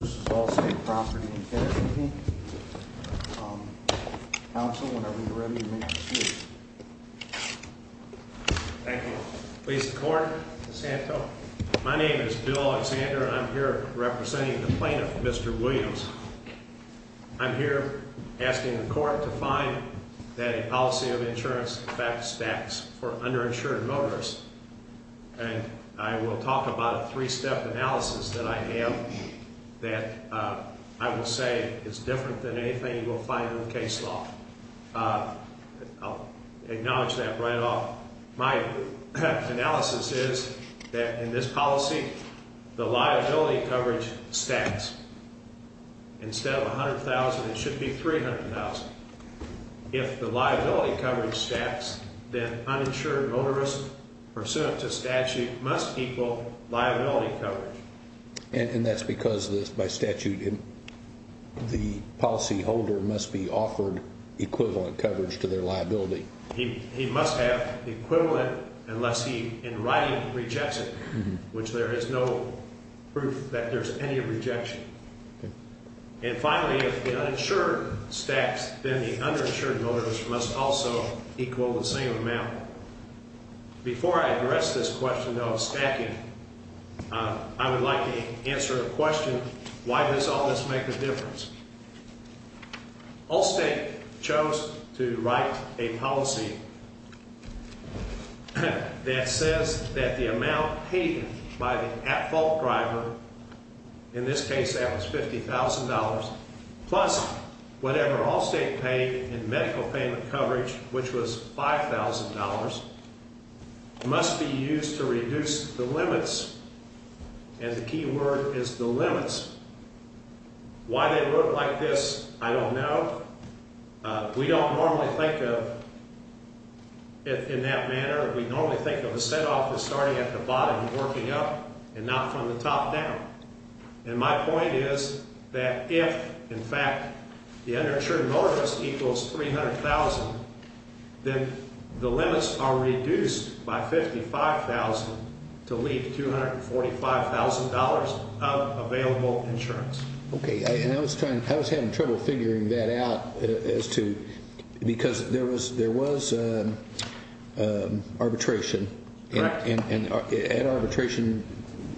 This is Allstate Property and Casualty, um, counsel, whenever you're ready to make your speech. Thank you. Please, the court, Ms. Hantel. My name is Bill Alexander, and I'm here representing the plaintiff, Mr. Williams. I'm here asking the court to find that a policy of insurance affects tax for underinsured motorists. And I will talk about a three-step analysis that I have that, uh, I will say is different than anything you will find in case law. Uh, I'll acknowledge that right off. My analysis is that in this policy, the liability coverage stacks. Instead of 100,000, it should be 300,000. If the liability coverage stacks, then uninsured motorist pursuant to statute must equal liability coverage. And that's because this, by statute, the policyholder must be offered equivalent coverage to their liability. He, he must have equivalent unless he, in writing, rejects it, which there is no proof that there's any rejection. And finally, if the uninsured stacks, then the underinsured motorist must also equal the same amount. Before I address this question of stacking, uh, I would like to answer the question, why does all this make a difference? Allstate chose to write a policy that says that the amount paid by the at-fault driver, in this case that was $50,000, plus whatever Allstate paid in medical payment coverage, which was $5,000, must be used to reduce the limits. And the key word is the limits. Why they look like this, I don't know. Uh, we don't normally think of it in that manner. We normally think of a set-off as starting at the bottom, working up, and not from the top down. And my point is that if, in fact, the underinsured motorist equals $300,000, then the limits are reduced by $55,000 to leave $245,000 of available insurance. Okay, and I was trying, I was having trouble figuring that out as to, because there was, there was arbitration. And at arbitration,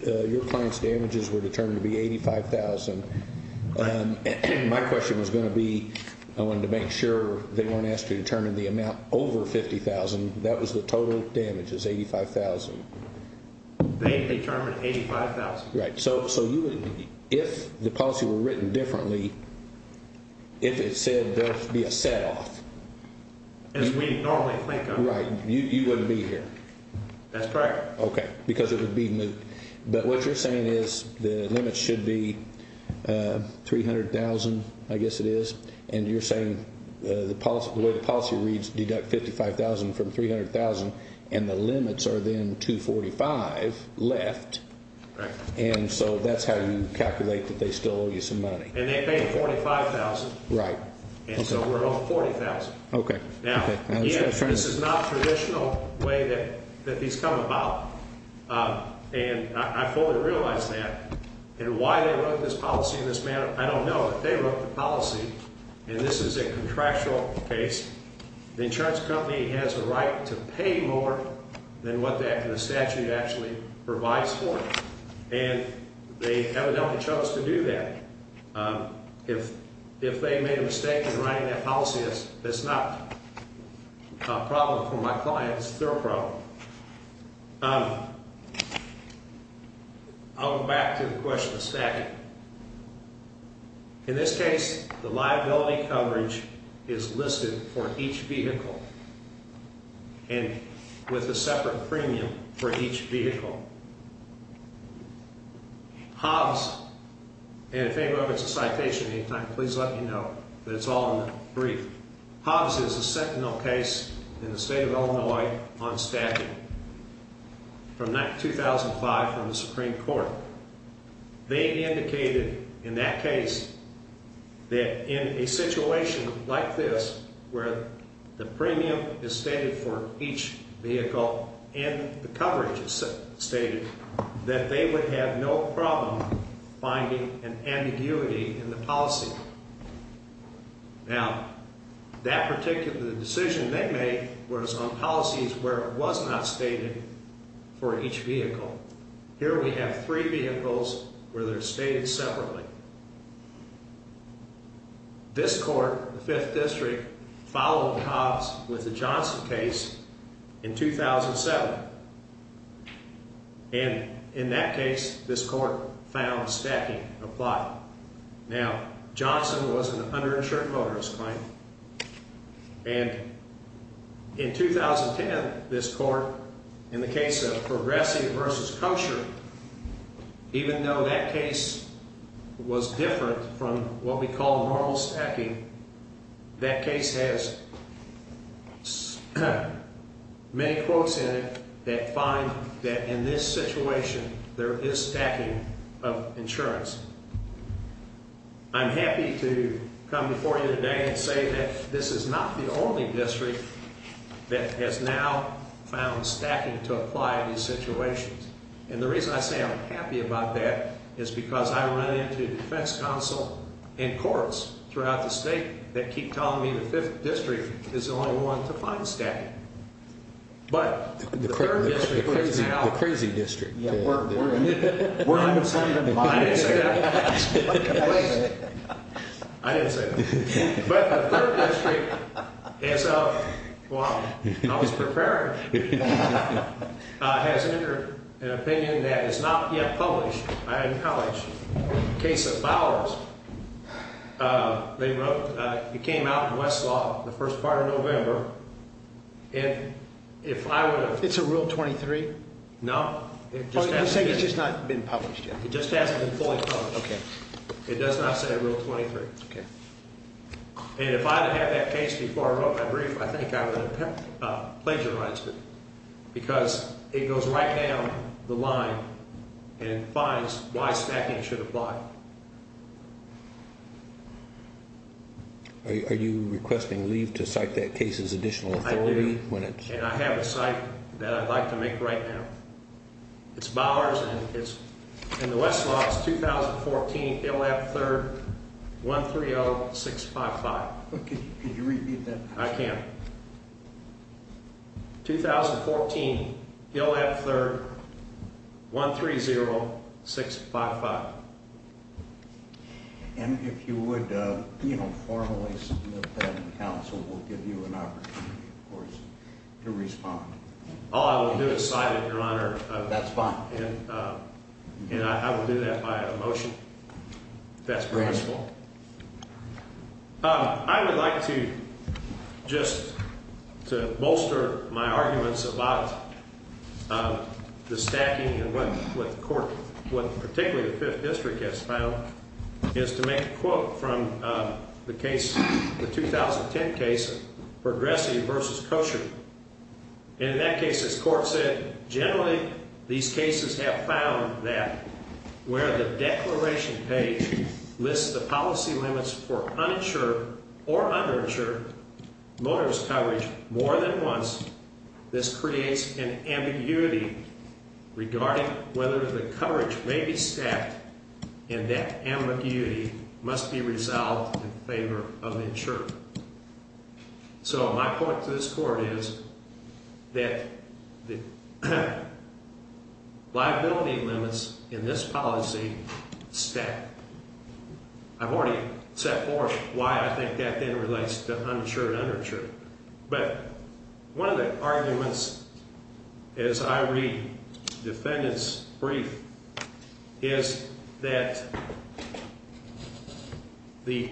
your client's damages were determined to be $85,000. My question was going to be, I wanted to make sure they weren't asked to determine the amount over $50,000. That was the total damages, $85,000. They determined $85,000. Right, so you would, if the policy were written differently, if it said there would be a set-off. As we normally think of it. Right, you wouldn't be here. That's correct. Okay, because it would be moot. But what you're saying is the limits should be $300,000, I guess it is. And you're saying the way the policy reads, deduct $55,000 from $300,000, and the limits are then $245,000 left. Right. And so that's how you calculate that they still owe you some money. And they paid $45,000. Right. And so we're owed $40,000. Okay. Now, this is not the traditional way that these come about. And I fully realize that. And why they wrote this policy in this manner, I don't know. But they wrote the policy, and this is a contractual case. The insurance company has a right to pay more than what the statute actually provides for. And they evidently chose to do that. If they made a mistake in writing that policy, that's not a problem for my client. It's their problem. I'll go back to the question of statute. In this case, the liability coverage is listed for each vehicle. And with a separate premium for each vehicle. Hobbs, and if anybody wants a citation at any time, please let me know that it's all in the brief. Hobbs is a sentinel case in the state of Illinois on statute. From 2005, from the Supreme Court. They indicated in that case that in a situation like this, where the premium is stated for each vehicle, and the coverage is stated, that they would have no problem finding an ambiguity in the policy. Now, that particular decision they made was on policies where it was not stated for each vehicle. Here we have three vehicles where they're stated separately. This court, the 5th District, followed Hobbs with the Johnson case in 2007. And in that case, this court found stacking applied. Now, Johnson was an underinsured motorist claimant. And in 2010, this court, in the case of Progressive v. Kosher, even though that case was different from what we call normal stacking, that case has many quotes in it that find that in this situation, there is stacking of insurance. I'm happy to come before you today and say that this is not the only district that has now found stacking to apply in these situations. And the reason I say I'm happy about that is because I run into defense counsel and courts throughout the state that keep telling me the 5th District is the only one to find stacking. But the 3rd District is now... The crazy district. I didn't say that. I didn't say that. But the 3rd District, as I was preparing, has entered an opinion that is not yet published. I acknowledge the case of Bowers. It came out in Westlaw the first part of November. And if I were to... It's a Rule 23? No. You're saying it's just not been published yet? It just hasn't been fully published. It does not say Rule 23. Okay. And if I had had that case before I wrote my brief, I think I would have plagiarized it. Because it goes right down the line and finds why stacking should apply. Are you requesting leave to cite that case as additional authority? I do. And I have a cite that I'd like to make right now. It's Bowers and it's in the Westlaw. It's 2014, Hill Ave. 3rd, 130-655. Could you repeat that? I can. 2014, Hill Ave. 3rd, 130-655. And if you would formally submit that, the council will give you an opportunity, of course, to respond. All I will do is cite it, Your Honor. That's fine. And I will do that by a motion, if that's permissible. I would like to just bolster my arguments about the stacking and what the court, what particularly the Fifth District has found, is to make a quote from the case, the 2010 case, Progressive v. Kosher. And in that case, as court said, generally these cases have found that where the declaration page lists the policy limits for uninsured or underinsured loaner's coverage more than once, this creates an ambiguity regarding whether the coverage may be stacked. And that ambiguity must be resolved in favor of the insurer. So my point to this court is that the liability limits in this policy stack. I've already set forth why I think that then relates to uninsured and underinsured. But one of the arguments, as I read the defendant's brief, is that the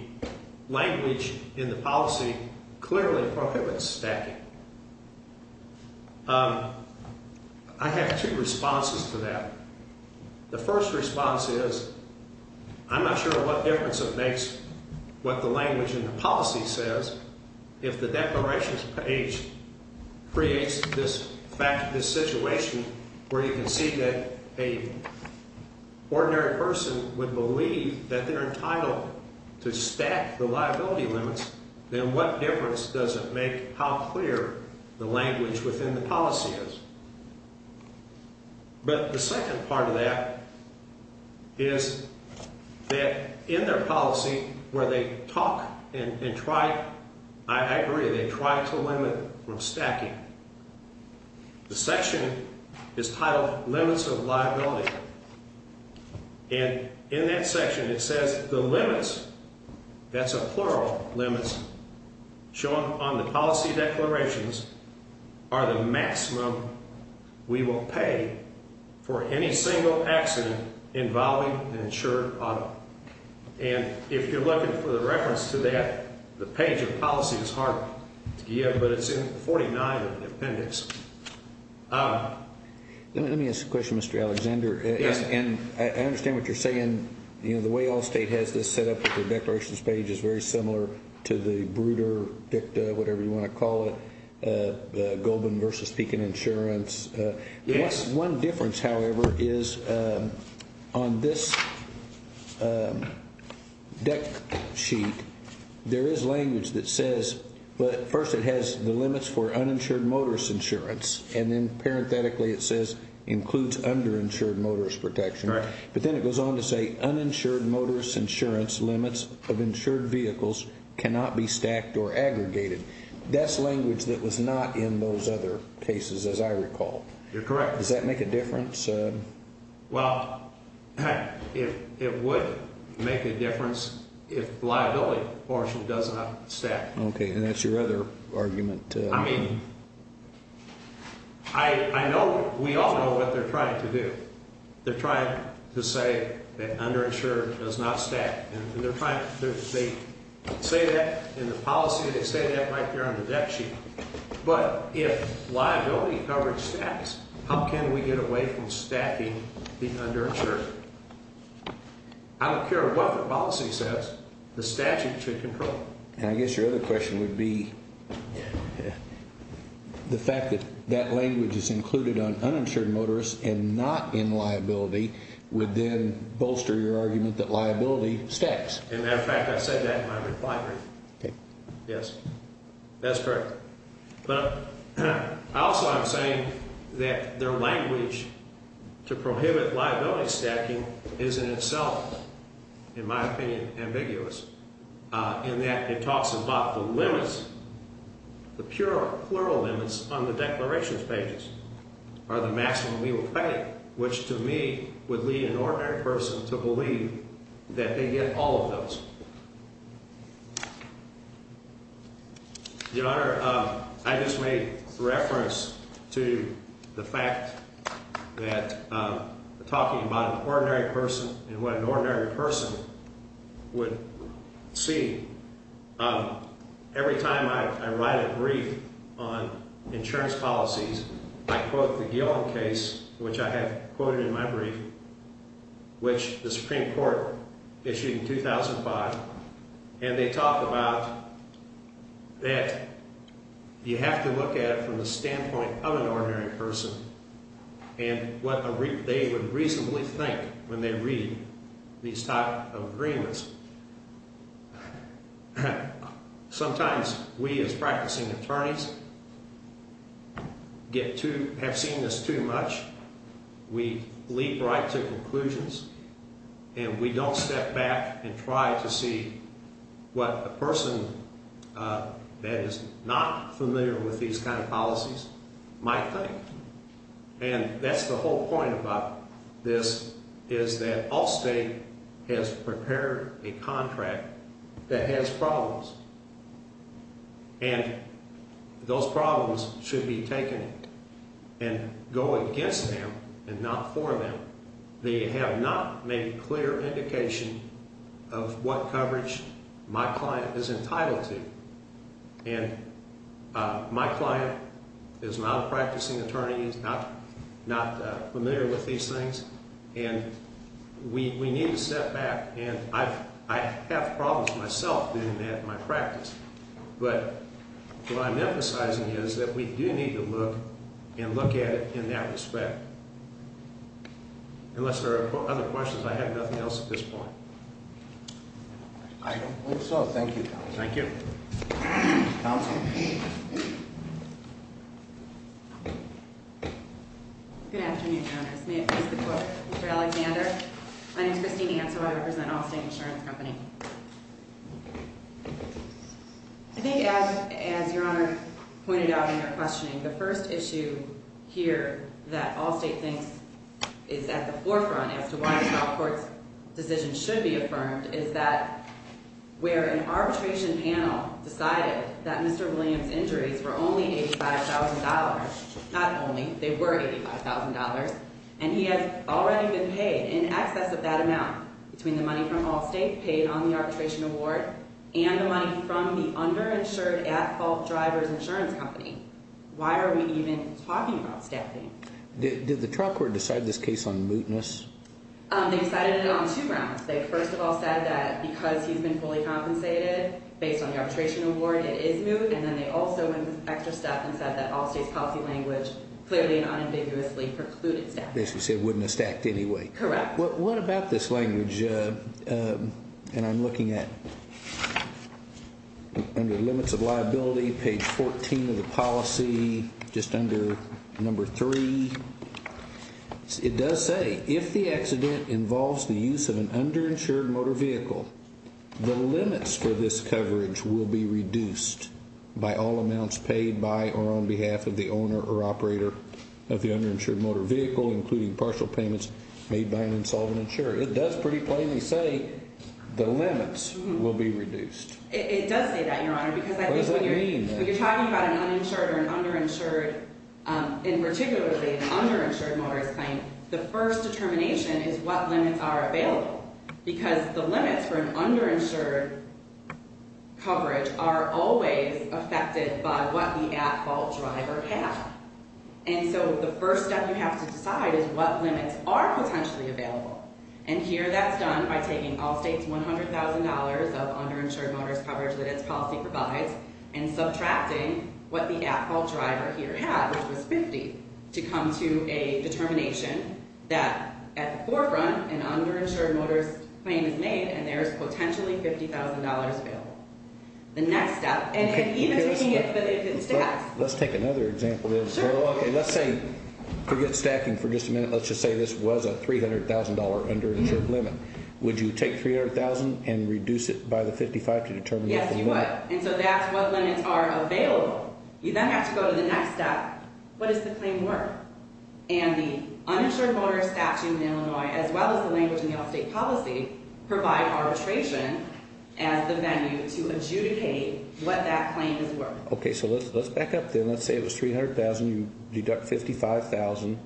language in the policy clearly prohibits stacking. I have two responses to that. The first response is, I'm not sure what difference it makes what the language in the policy says if the declarations page creates this situation where you can see that an ordinary person would believe that they're entitled to stack the liability limits, then what difference does it make how clear the language within the policy is? But the second part of that is that in their policy where they talk and try, I agree, they try to limit stacking. The section is titled Limits of Liability. And in that section it says the limits, that's a plural limits, shown on the policy declarations are the maximum we will pay for any single accident involving an insured product. And if you're looking for the reference to that, the page of policy is hard to get, but it's in 49 of the appendix. Let me ask a question, Mr. Alexander. I understand what you're saying. The way Allstate has this set up with their declarations page is very similar to the Bruder Dicta, whatever you want to call it, Goldman versus Pekin Insurance. One difference, however, is on this deck sheet, there is language that says, but first it has the limits for uninsured motorist insurance, and then parenthetically it says includes underinsured motorist protection. But then it goes on to say uninsured motorist insurance limits of insured vehicles cannot be stacked or aggregated. That's language that was not in those other cases, as I recall. You're correct. Does that make a difference? Well, it would make a difference if liability portion does not stack. Okay, and that's your other argument. I mean, I know we all know what they're trying to do. They're trying to say that underinsured does not stack, and they say that in the policy. They say that right there on the deck sheet. But if liability coverage stacks, how can we get away from stacking the underinsured? I don't care what the policy says. The statute should control it. And I guess your other question would be the fact that that language is included on uninsured motorists and not in liability would then bolster your argument that liability stacks. As a matter of fact, I said that in my reply brief. Okay. Yes, that's correct. But also I'm saying that their language to prohibit liability stacking is in itself, in my opinion, ambiguous. In that it talks about the limits, the plural limits on the declarations pages are the maximum we will pay, which to me would lead an ordinary person to believe that they get all of those. Your Honor, I just made reference to the fact that talking about an ordinary person and what an ordinary person would see. Every time I write a brief on insurance policies, I quote the Gillom case, which I have quoted in my brief, which the Supreme Court issued in 2005. And they talk about that you have to look at it from the standpoint of an ordinary person and what they would reasonably think when they read these type of agreements. Sometimes we as practicing attorneys get too, have seen this too much. We leap right to conclusions and we don't step back and try to see what a person that is not familiar with these kind of policies might think. And that's the whole point about this is that all state has prepared a contract that has problems. And those problems should be taken and go against them and not for them. They have not made a clear indication of what coverage my client is entitled to. And my client is not a practicing attorney, is not familiar with these things. And we need to step back. And I have problems myself doing that in my practice. But what I'm emphasizing is that we do need to look and look at it in that respect. Unless there are other questions, I have nothing else at this point. I don't believe so. Thank you, counsel. Thank you. Counsel. Good afternoon, Your Honors. May it please the Court, Mr. Alexander. My name is Christine Anto. I represent Allstate Insurance Company. I think as, as Your Honor pointed out in your questioning, the first issue here that Allstate thinks is at the forefront as to why a trial court's decision should be affirmed is that where an arbitration panel decided that Mr. Williams' injuries were only $85,000, not only, they were $85,000, and he has already been paid in excess of that amount between the money from Allstate paid on the arbitration award and the money from the underinsured at-fault driver's insurance company. Why are we even talking about staffing? Did the trial court decide this case on mootness? They decided it on two grounds. They first of all said that because he's been fully compensated based on the arbitration award, it is moot, and then they also went extra step and said that Allstate's policy language clearly and unambiguously precluded staffing. Basically said it wouldn't have stacked anyway. Correct. What about this language, and I'm looking at, under limits of liability, page 14 of the policy, just under number three. It does say, if the accident involves the use of an underinsured motor vehicle, the limits for this coverage will be reduced by all amounts paid by or on behalf of the owner or operator of the underinsured motor vehicle, including partial payments made by an insolvent insurer. It does pretty plainly say the limits will be reduced. It does say that, Your Honor, because I think when you're talking about an uninsured or an underinsured, in particular an underinsured motorist claim, the first determination is what limits are available, because the limits for an underinsured coverage are always affected by what the at-fault driver has. And so the first step you have to decide is what limits are potentially available, and here that's done by taking Allstate's $100,000 of underinsured motorist coverage that its policy provides and subtracting what the at-fault driver here had, which was $50,000, to come to a determination that, at the forefront, an underinsured motorist claim is made, and there is potentially $50,000 available. The next step, and even taking it to the next step. Let's take another example. Sure. Let's say, forget stacking for just a minute, let's just say this was a $300,000 underinsured limit. Would you take $300,000 and reduce it by the $55,000 to determine what the limit is? Yes, you would, and so that's what limits are available. You then have to go to the next step. What does the claim work? And the uninsured motorist statute in Illinois, as well as the language in the Allstate policy, provide arbitration as the venue to adjudicate what that claim is worth. Okay, so let's back up then. Let's say it was $300,000. You deduct $55,000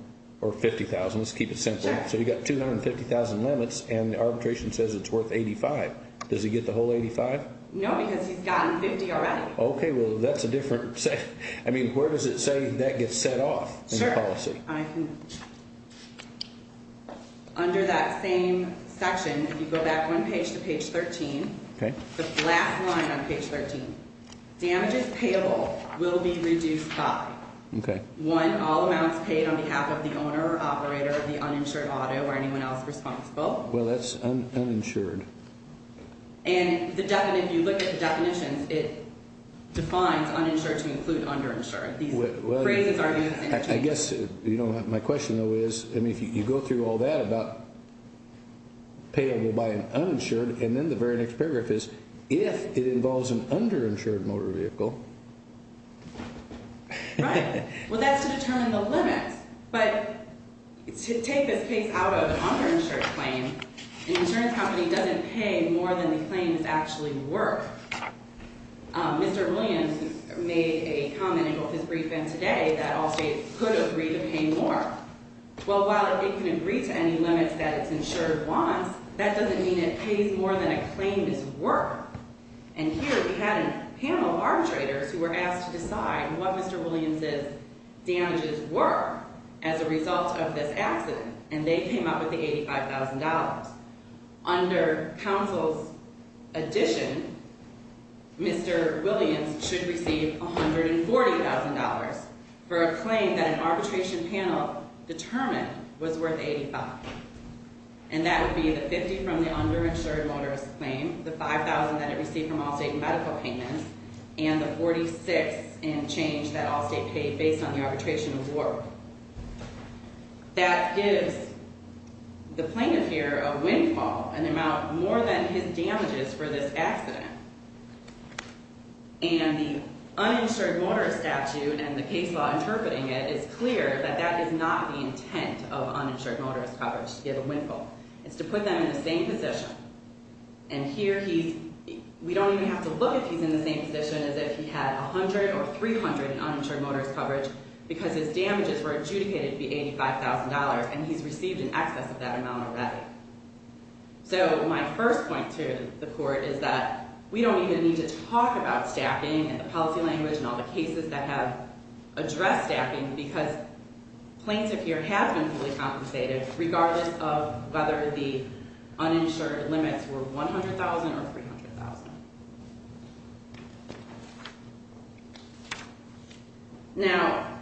or $50,000. Let's keep it simple. Sure. So you've got 250,000 limits, and the arbitration says it's worth $85,000. Does it get the whole $85,000? No, because he's gotten $50,000 already. Okay, well, that's a different set. I mean, where does it say that gets set off in the policy? Sure. Under that same section, if you go back one page to page 13, the last line on page 13, damages payable will be reduced by, one, all amounts paid on behalf of the owner or operator of the uninsured auto or anyone else responsible. Well, that's uninsured. And if you look at the definitions, it defines uninsured to include underinsured. These phrases are used interchangeably. I guess my question, though, is, I mean, if you go through all that about payable by an uninsured, and then the very next paragraph is, if it involves an underinsured motor vehicle. Right. Well, that's to determine the limits. But to take this case out of an underinsured claim, an insurance company doesn't pay more than the claim is actually worth. Mr. Williams made a comment in both his brief and today that all states could agree to pay more. Well, while it can agree to any limits that its insured wants, that doesn't mean it pays more than a claim is worth. And here we had a panel of arbitrators who were asked to decide what Mr. Williams' damages were as a result of this accident. And they came up with the $85,000. Under counsel's addition, Mr. Williams should receive $140,000 for a claim that an arbitration panel determined was worth $85,000. And that would be the $50,000 from the underinsured motorist claim, the $5,000 that it received from all state medical payments, and the $46,000 in change that all states paid based on the arbitration award. That gives the plaintiff here a windfall, an amount more than his damages for this accident. And the uninsured motorist statute and the case law interpreting it is clear that that is not the intent of uninsured motorist coverage, to give a windfall. It's to put them in the same position. And here he's, we don't even have to look if he's in the same position as if he had 100 or 300 in uninsured motorist coverage because his damages were adjudicated to be $85,000 and he's received in excess of that amount already. So my first point to the court is that we don't even need to talk about staffing and the policy language and all the cases that have addressed staffing because plaintiff here has been fully compensated regardless of whether the uninsured limits were $100,000 or $300,000. Now,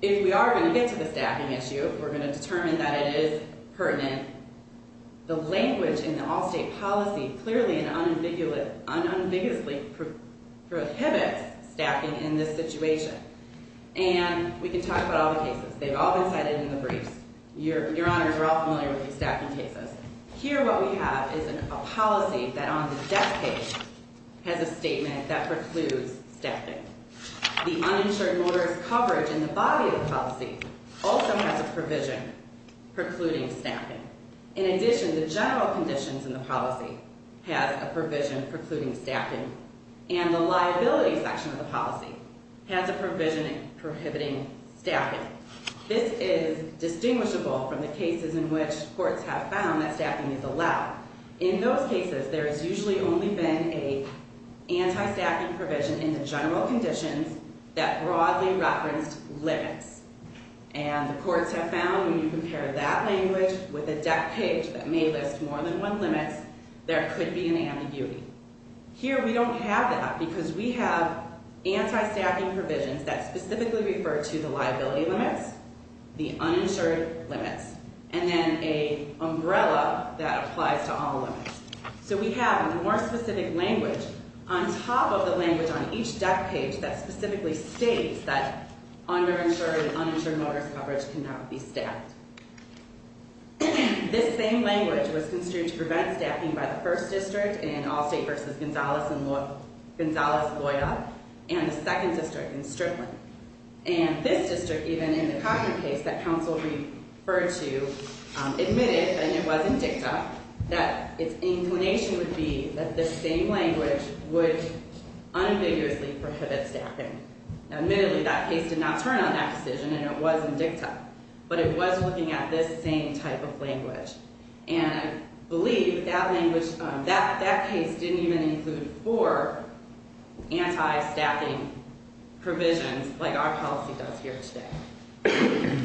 if we are going to get to the staffing issue, we're going to determine that it is pertinent. The language in the all-state policy clearly and unambiguously prohibits staffing in this situation. And we can talk about all the cases. They've all been cited in the briefs. Your honors are all familiar with these staffing cases. Here what we have is a policy that on the death page has a statement that precludes staffing. The uninsured motorist coverage in the body of the policy also has a provision precluding staffing. In addition, the general conditions in the policy has a provision precluding staffing. And the liability section of the policy has a provision prohibiting staffing. This is distinguishable from the cases in which courts have found that staffing is allowed. In those cases, there has usually only been an anti-staffing provision in the general conditions that broadly referenced limits. And the courts have found when you compare that language with a death page that may list more than one limit, there could be an ambiguity. Here we don't have that because we have anti-staffing provisions that specifically refer to the liability limits, the uninsured limits, and then an umbrella that applies to all limits. So we have a more specific language on top of the language on each death page that specifically states that uninsured motorist coverage cannot be staffed. This same language was construed to prevent staffing by the first district in Allstate v. Gonzalez-Loya and the second district in Strickland. And this district, even in the Cochran case that counsel referred to, admitted, and it was in dicta, that its inclination would be that this same language would unambiguously prohibit staffing. Admittedly, that case did not turn on that decision, and it was in dicta. But it was looking at this same type of language. And I believe that language, that case didn't even include four anti-staffing provisions like our policy does here today.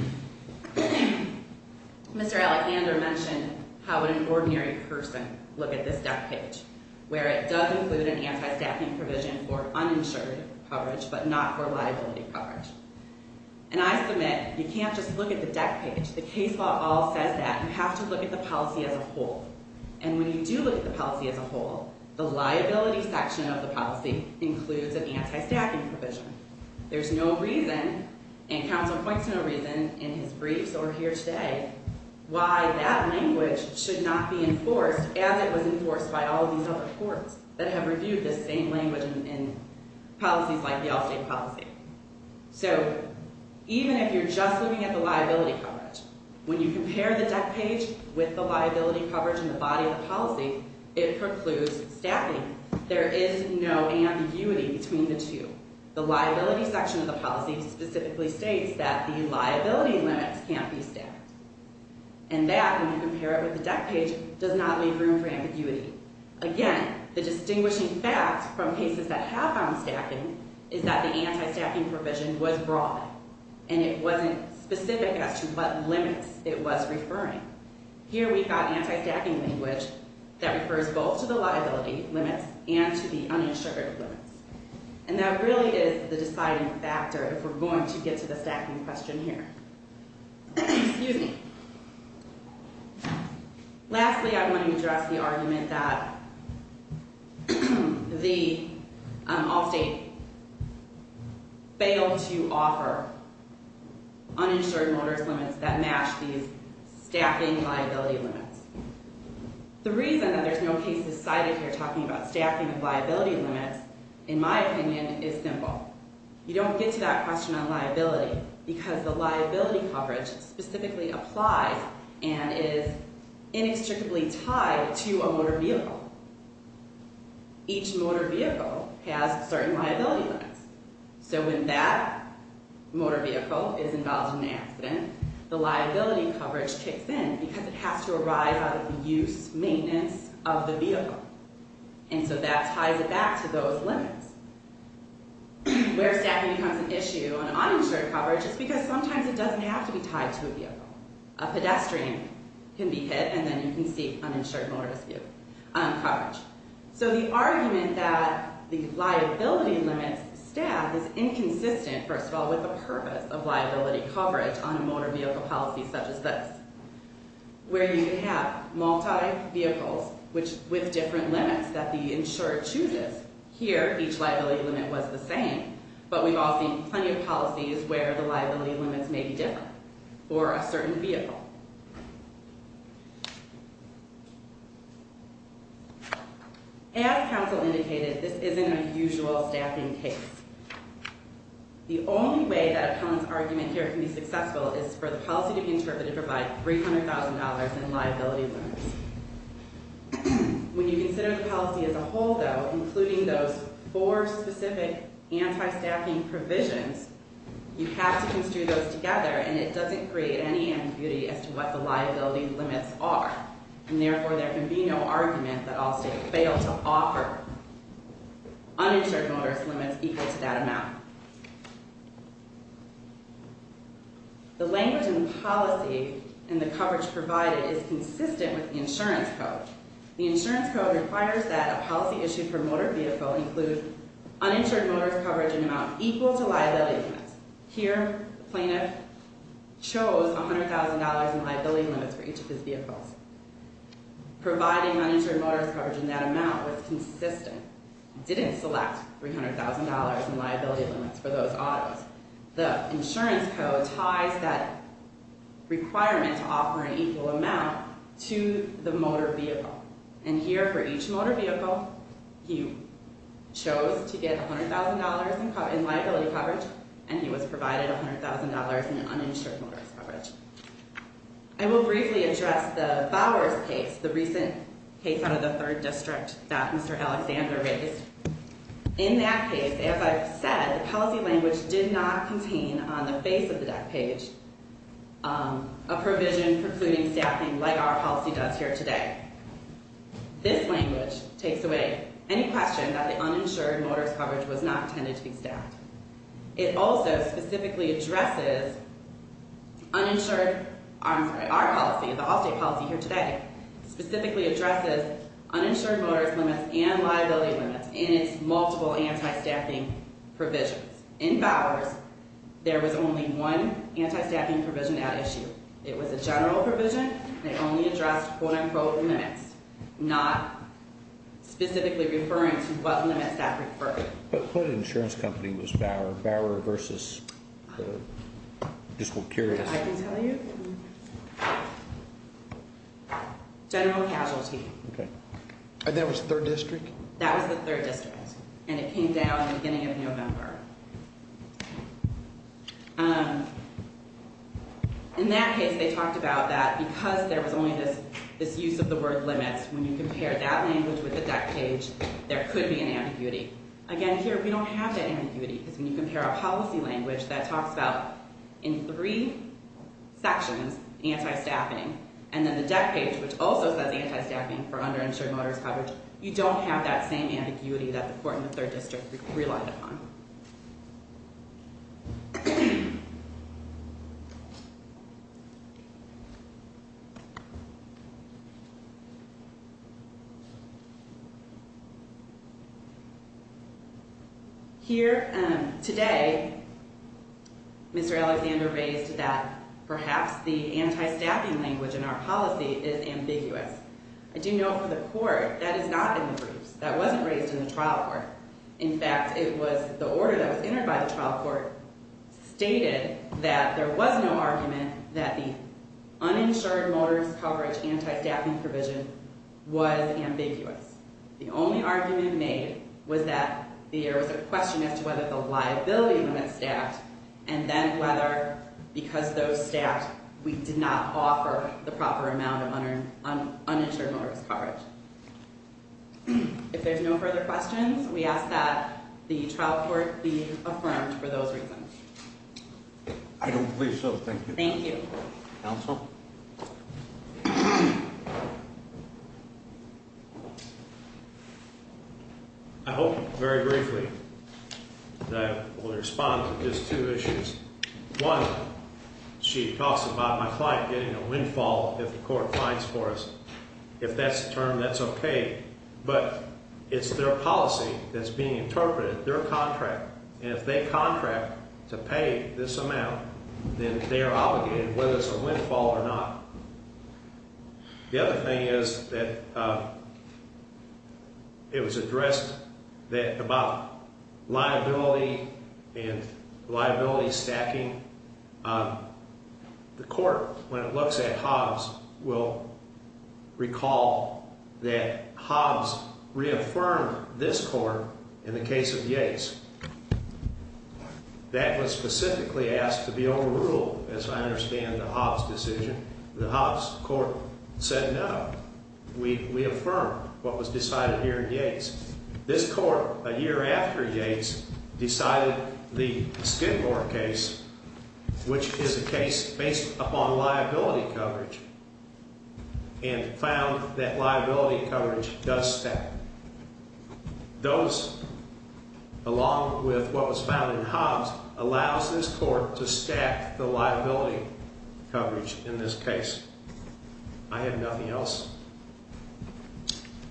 Mr. Alecander mentioned how an ordinary person would look at this death page, where it does include an anti-staffing provision for uninsured coverage, but not for liability coverage. And I submit, you can't just look at the death page. The case law all says that. You have to look at the policy as a whole. And when you do look at the policy as a whole, the liability section of the policy includes an anti-staffing provision. There's no reason, and counsel points to no reason in his briefs or here today, why that language should not be enforced as it was enforced by all these other courts that have reviewed this same language in policies like the Allstate policy. So even if you're just looking at the liability coverage, when you compare the death page with the liability coverage in the body of the policy, it precludes staffing. There is no ambiguity between the two. The liability section of the policy specifically states that the liability limits can't be staffed. And that, when you compare it with the death page, does not leave room for ambiguity. Again, the distinguishing fact from cases that have found staffing is that the anti-staffing provision was broad, and it wasn't specific as to what limits it was referring. Here we've got anti-staffing language that refers both to the liability limits and to the uninsured limits. And that really is the deciding factor if we're going to get to the staffing question here. Excuse me. Lastly, I want to address the argument that the Allstate failed to offer uninsured motorist limits that match these staffing liability limits. The reason that there's no cases cited here talking about staffing of liability limits, in my opinion, is simple. You don't get to that question on liability because the liability coverage specifically applies and is inextricably tied to a motor vehicle. Each motor vehicle has certain liability limits. The liability coverage kicks in because it has to arise out of the use, maintenance of the vehicle. And so that ties it back to those limits. Where staffing becomes an issue on uninsured coverage is because sometimes it doesn't have to be tied to a vehicle. A pedestrian can be hit, and then you can see uninsured motorist coverage. So the argument that the liability limits staff is inconsistent, first of all, with the purpose of liability coverage on a motor vehicle policy such as this, where you have multi-vehicles with different limits that the insurer chooses. Here, each liability limit was the same, but we've all seen plenty of policies where the liability limits may be different for a certain vehicle. As counsel indicated, this isn't a usual staffing case. The only way that Appellant's argument here can be successful is for the policy to be interpreted to provide $300,000 in liability limits. When you consider the policy as a whole, though, including those four specific anti-staffing provisions, you have to construe those together, and it doesn't create any ambiguity as to what the liability limits are. And therefore, there can be no argument that all states fail to offer uninsured motorist limits equal to that amount. The language in the policy and the coverage provided is consistent with the insurance code. The insurance code requires that a policy issued for a motor vehicle include uninsured motorist coverage in an amount equal to liability limits. Here, the plaintiff chose $100,000 in liability limits for each of his vehicles. Providing uninsured motorist coverage in that amount was consistent. He didn't select $300,000 in liability limits for those autos. The insurance code ties that requirement to offer an equal amount to the motor vehicle. And here, for each motor vehicle, he chose to get $100,000 in liability coverage, and he was provided $100,000 in uninsured motorist coverage. I will briefly address the Bowers case, the recent case out of the 3rd District that Mr. Alexander raised. In that case, as I've said, the policy language did not contain on the face of the deck page a provision precluding staffing like our policy does here today. This language takes away any question that the uninsured motorist coverage was not intended to be staffed. It also specifically addresses uninsured... I'm sorry, our policy, the Allstate policy here today, specifically addresses uninsured motorist limits and liability limits in its multiple anti-staffing provisions. In Bowers, there was only one anti-staffing provision at issue. It was a general provision that only addressed quote-unquote limits, not specifically referring to what limits that preferred. But what insurance company was Bower versus? I'm just curious. I can tell you. Okay. And that was 3rd District? That was the 3rd District, and it came down in the beginning of November. In that case, they talked about that because there was only this use of the word limits, when you compare that language with the deck page, there could be an ambiguity. Again, here, we don't have that ambiguity because when you compare our policy language, that talks about in three sections, anti-staffing, and then the deck page, which also says anti-staffing for uninsured motorist coverage, you don't have that same ambiguity that the court in the 3rd District relied upon. Here, today, Mr. Alexander raised that perhaps the anti-staffing language in our policy is ambiguous. I do know for the court, that is not in the briefs. That wasn't raised in the trial court. In fact, it was the order that was entered by the trial court stated that there was no argument that the uninsured motorist coverage anti-staffing provision was ambiguous. The only argument made was that there was a question as to whether the liability limit staffed, and then whether, because those staffed, we did not offer the proper amount of uninsured motorist coverage. If there's no further questions, we ask that the trial court be affirmed for those reasons. I don't believe so. Thank you. Thank you. Counsel? Counsel? I hope, very briefly, that I will respond to just two issues. One, she talks about my client getting a windfall if the court finds for us. If that's the term, that's okay. But it's their policy that's being interpreted, their contract. And if they contract to pay this amount, then they are obligated, whether it's a windfall or not. The other thing is that it was addressed about liability and liability stacking. The court, when it looks at Hobbs, will recall that Hobbs reaffirmed this court in the case of Yates. That was specifically asked to be overruled, as I understand the Hobbs decision. The Hobbs court said, no, we affirm what was decided here in Yates. This court, a year after Yates, decided the Skidmore case, which is a case based upon liability coverage, and found that liability coverage does stack. Those, along with what was found in Hobbs, allows this court to stack the liability coverage in this case. I have nothing else.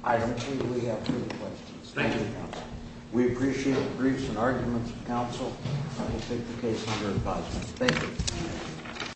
I believe we have two questions. Thank you. We appreciate the briefs and arguments of counsel. I will take the case under advisement. Thank you.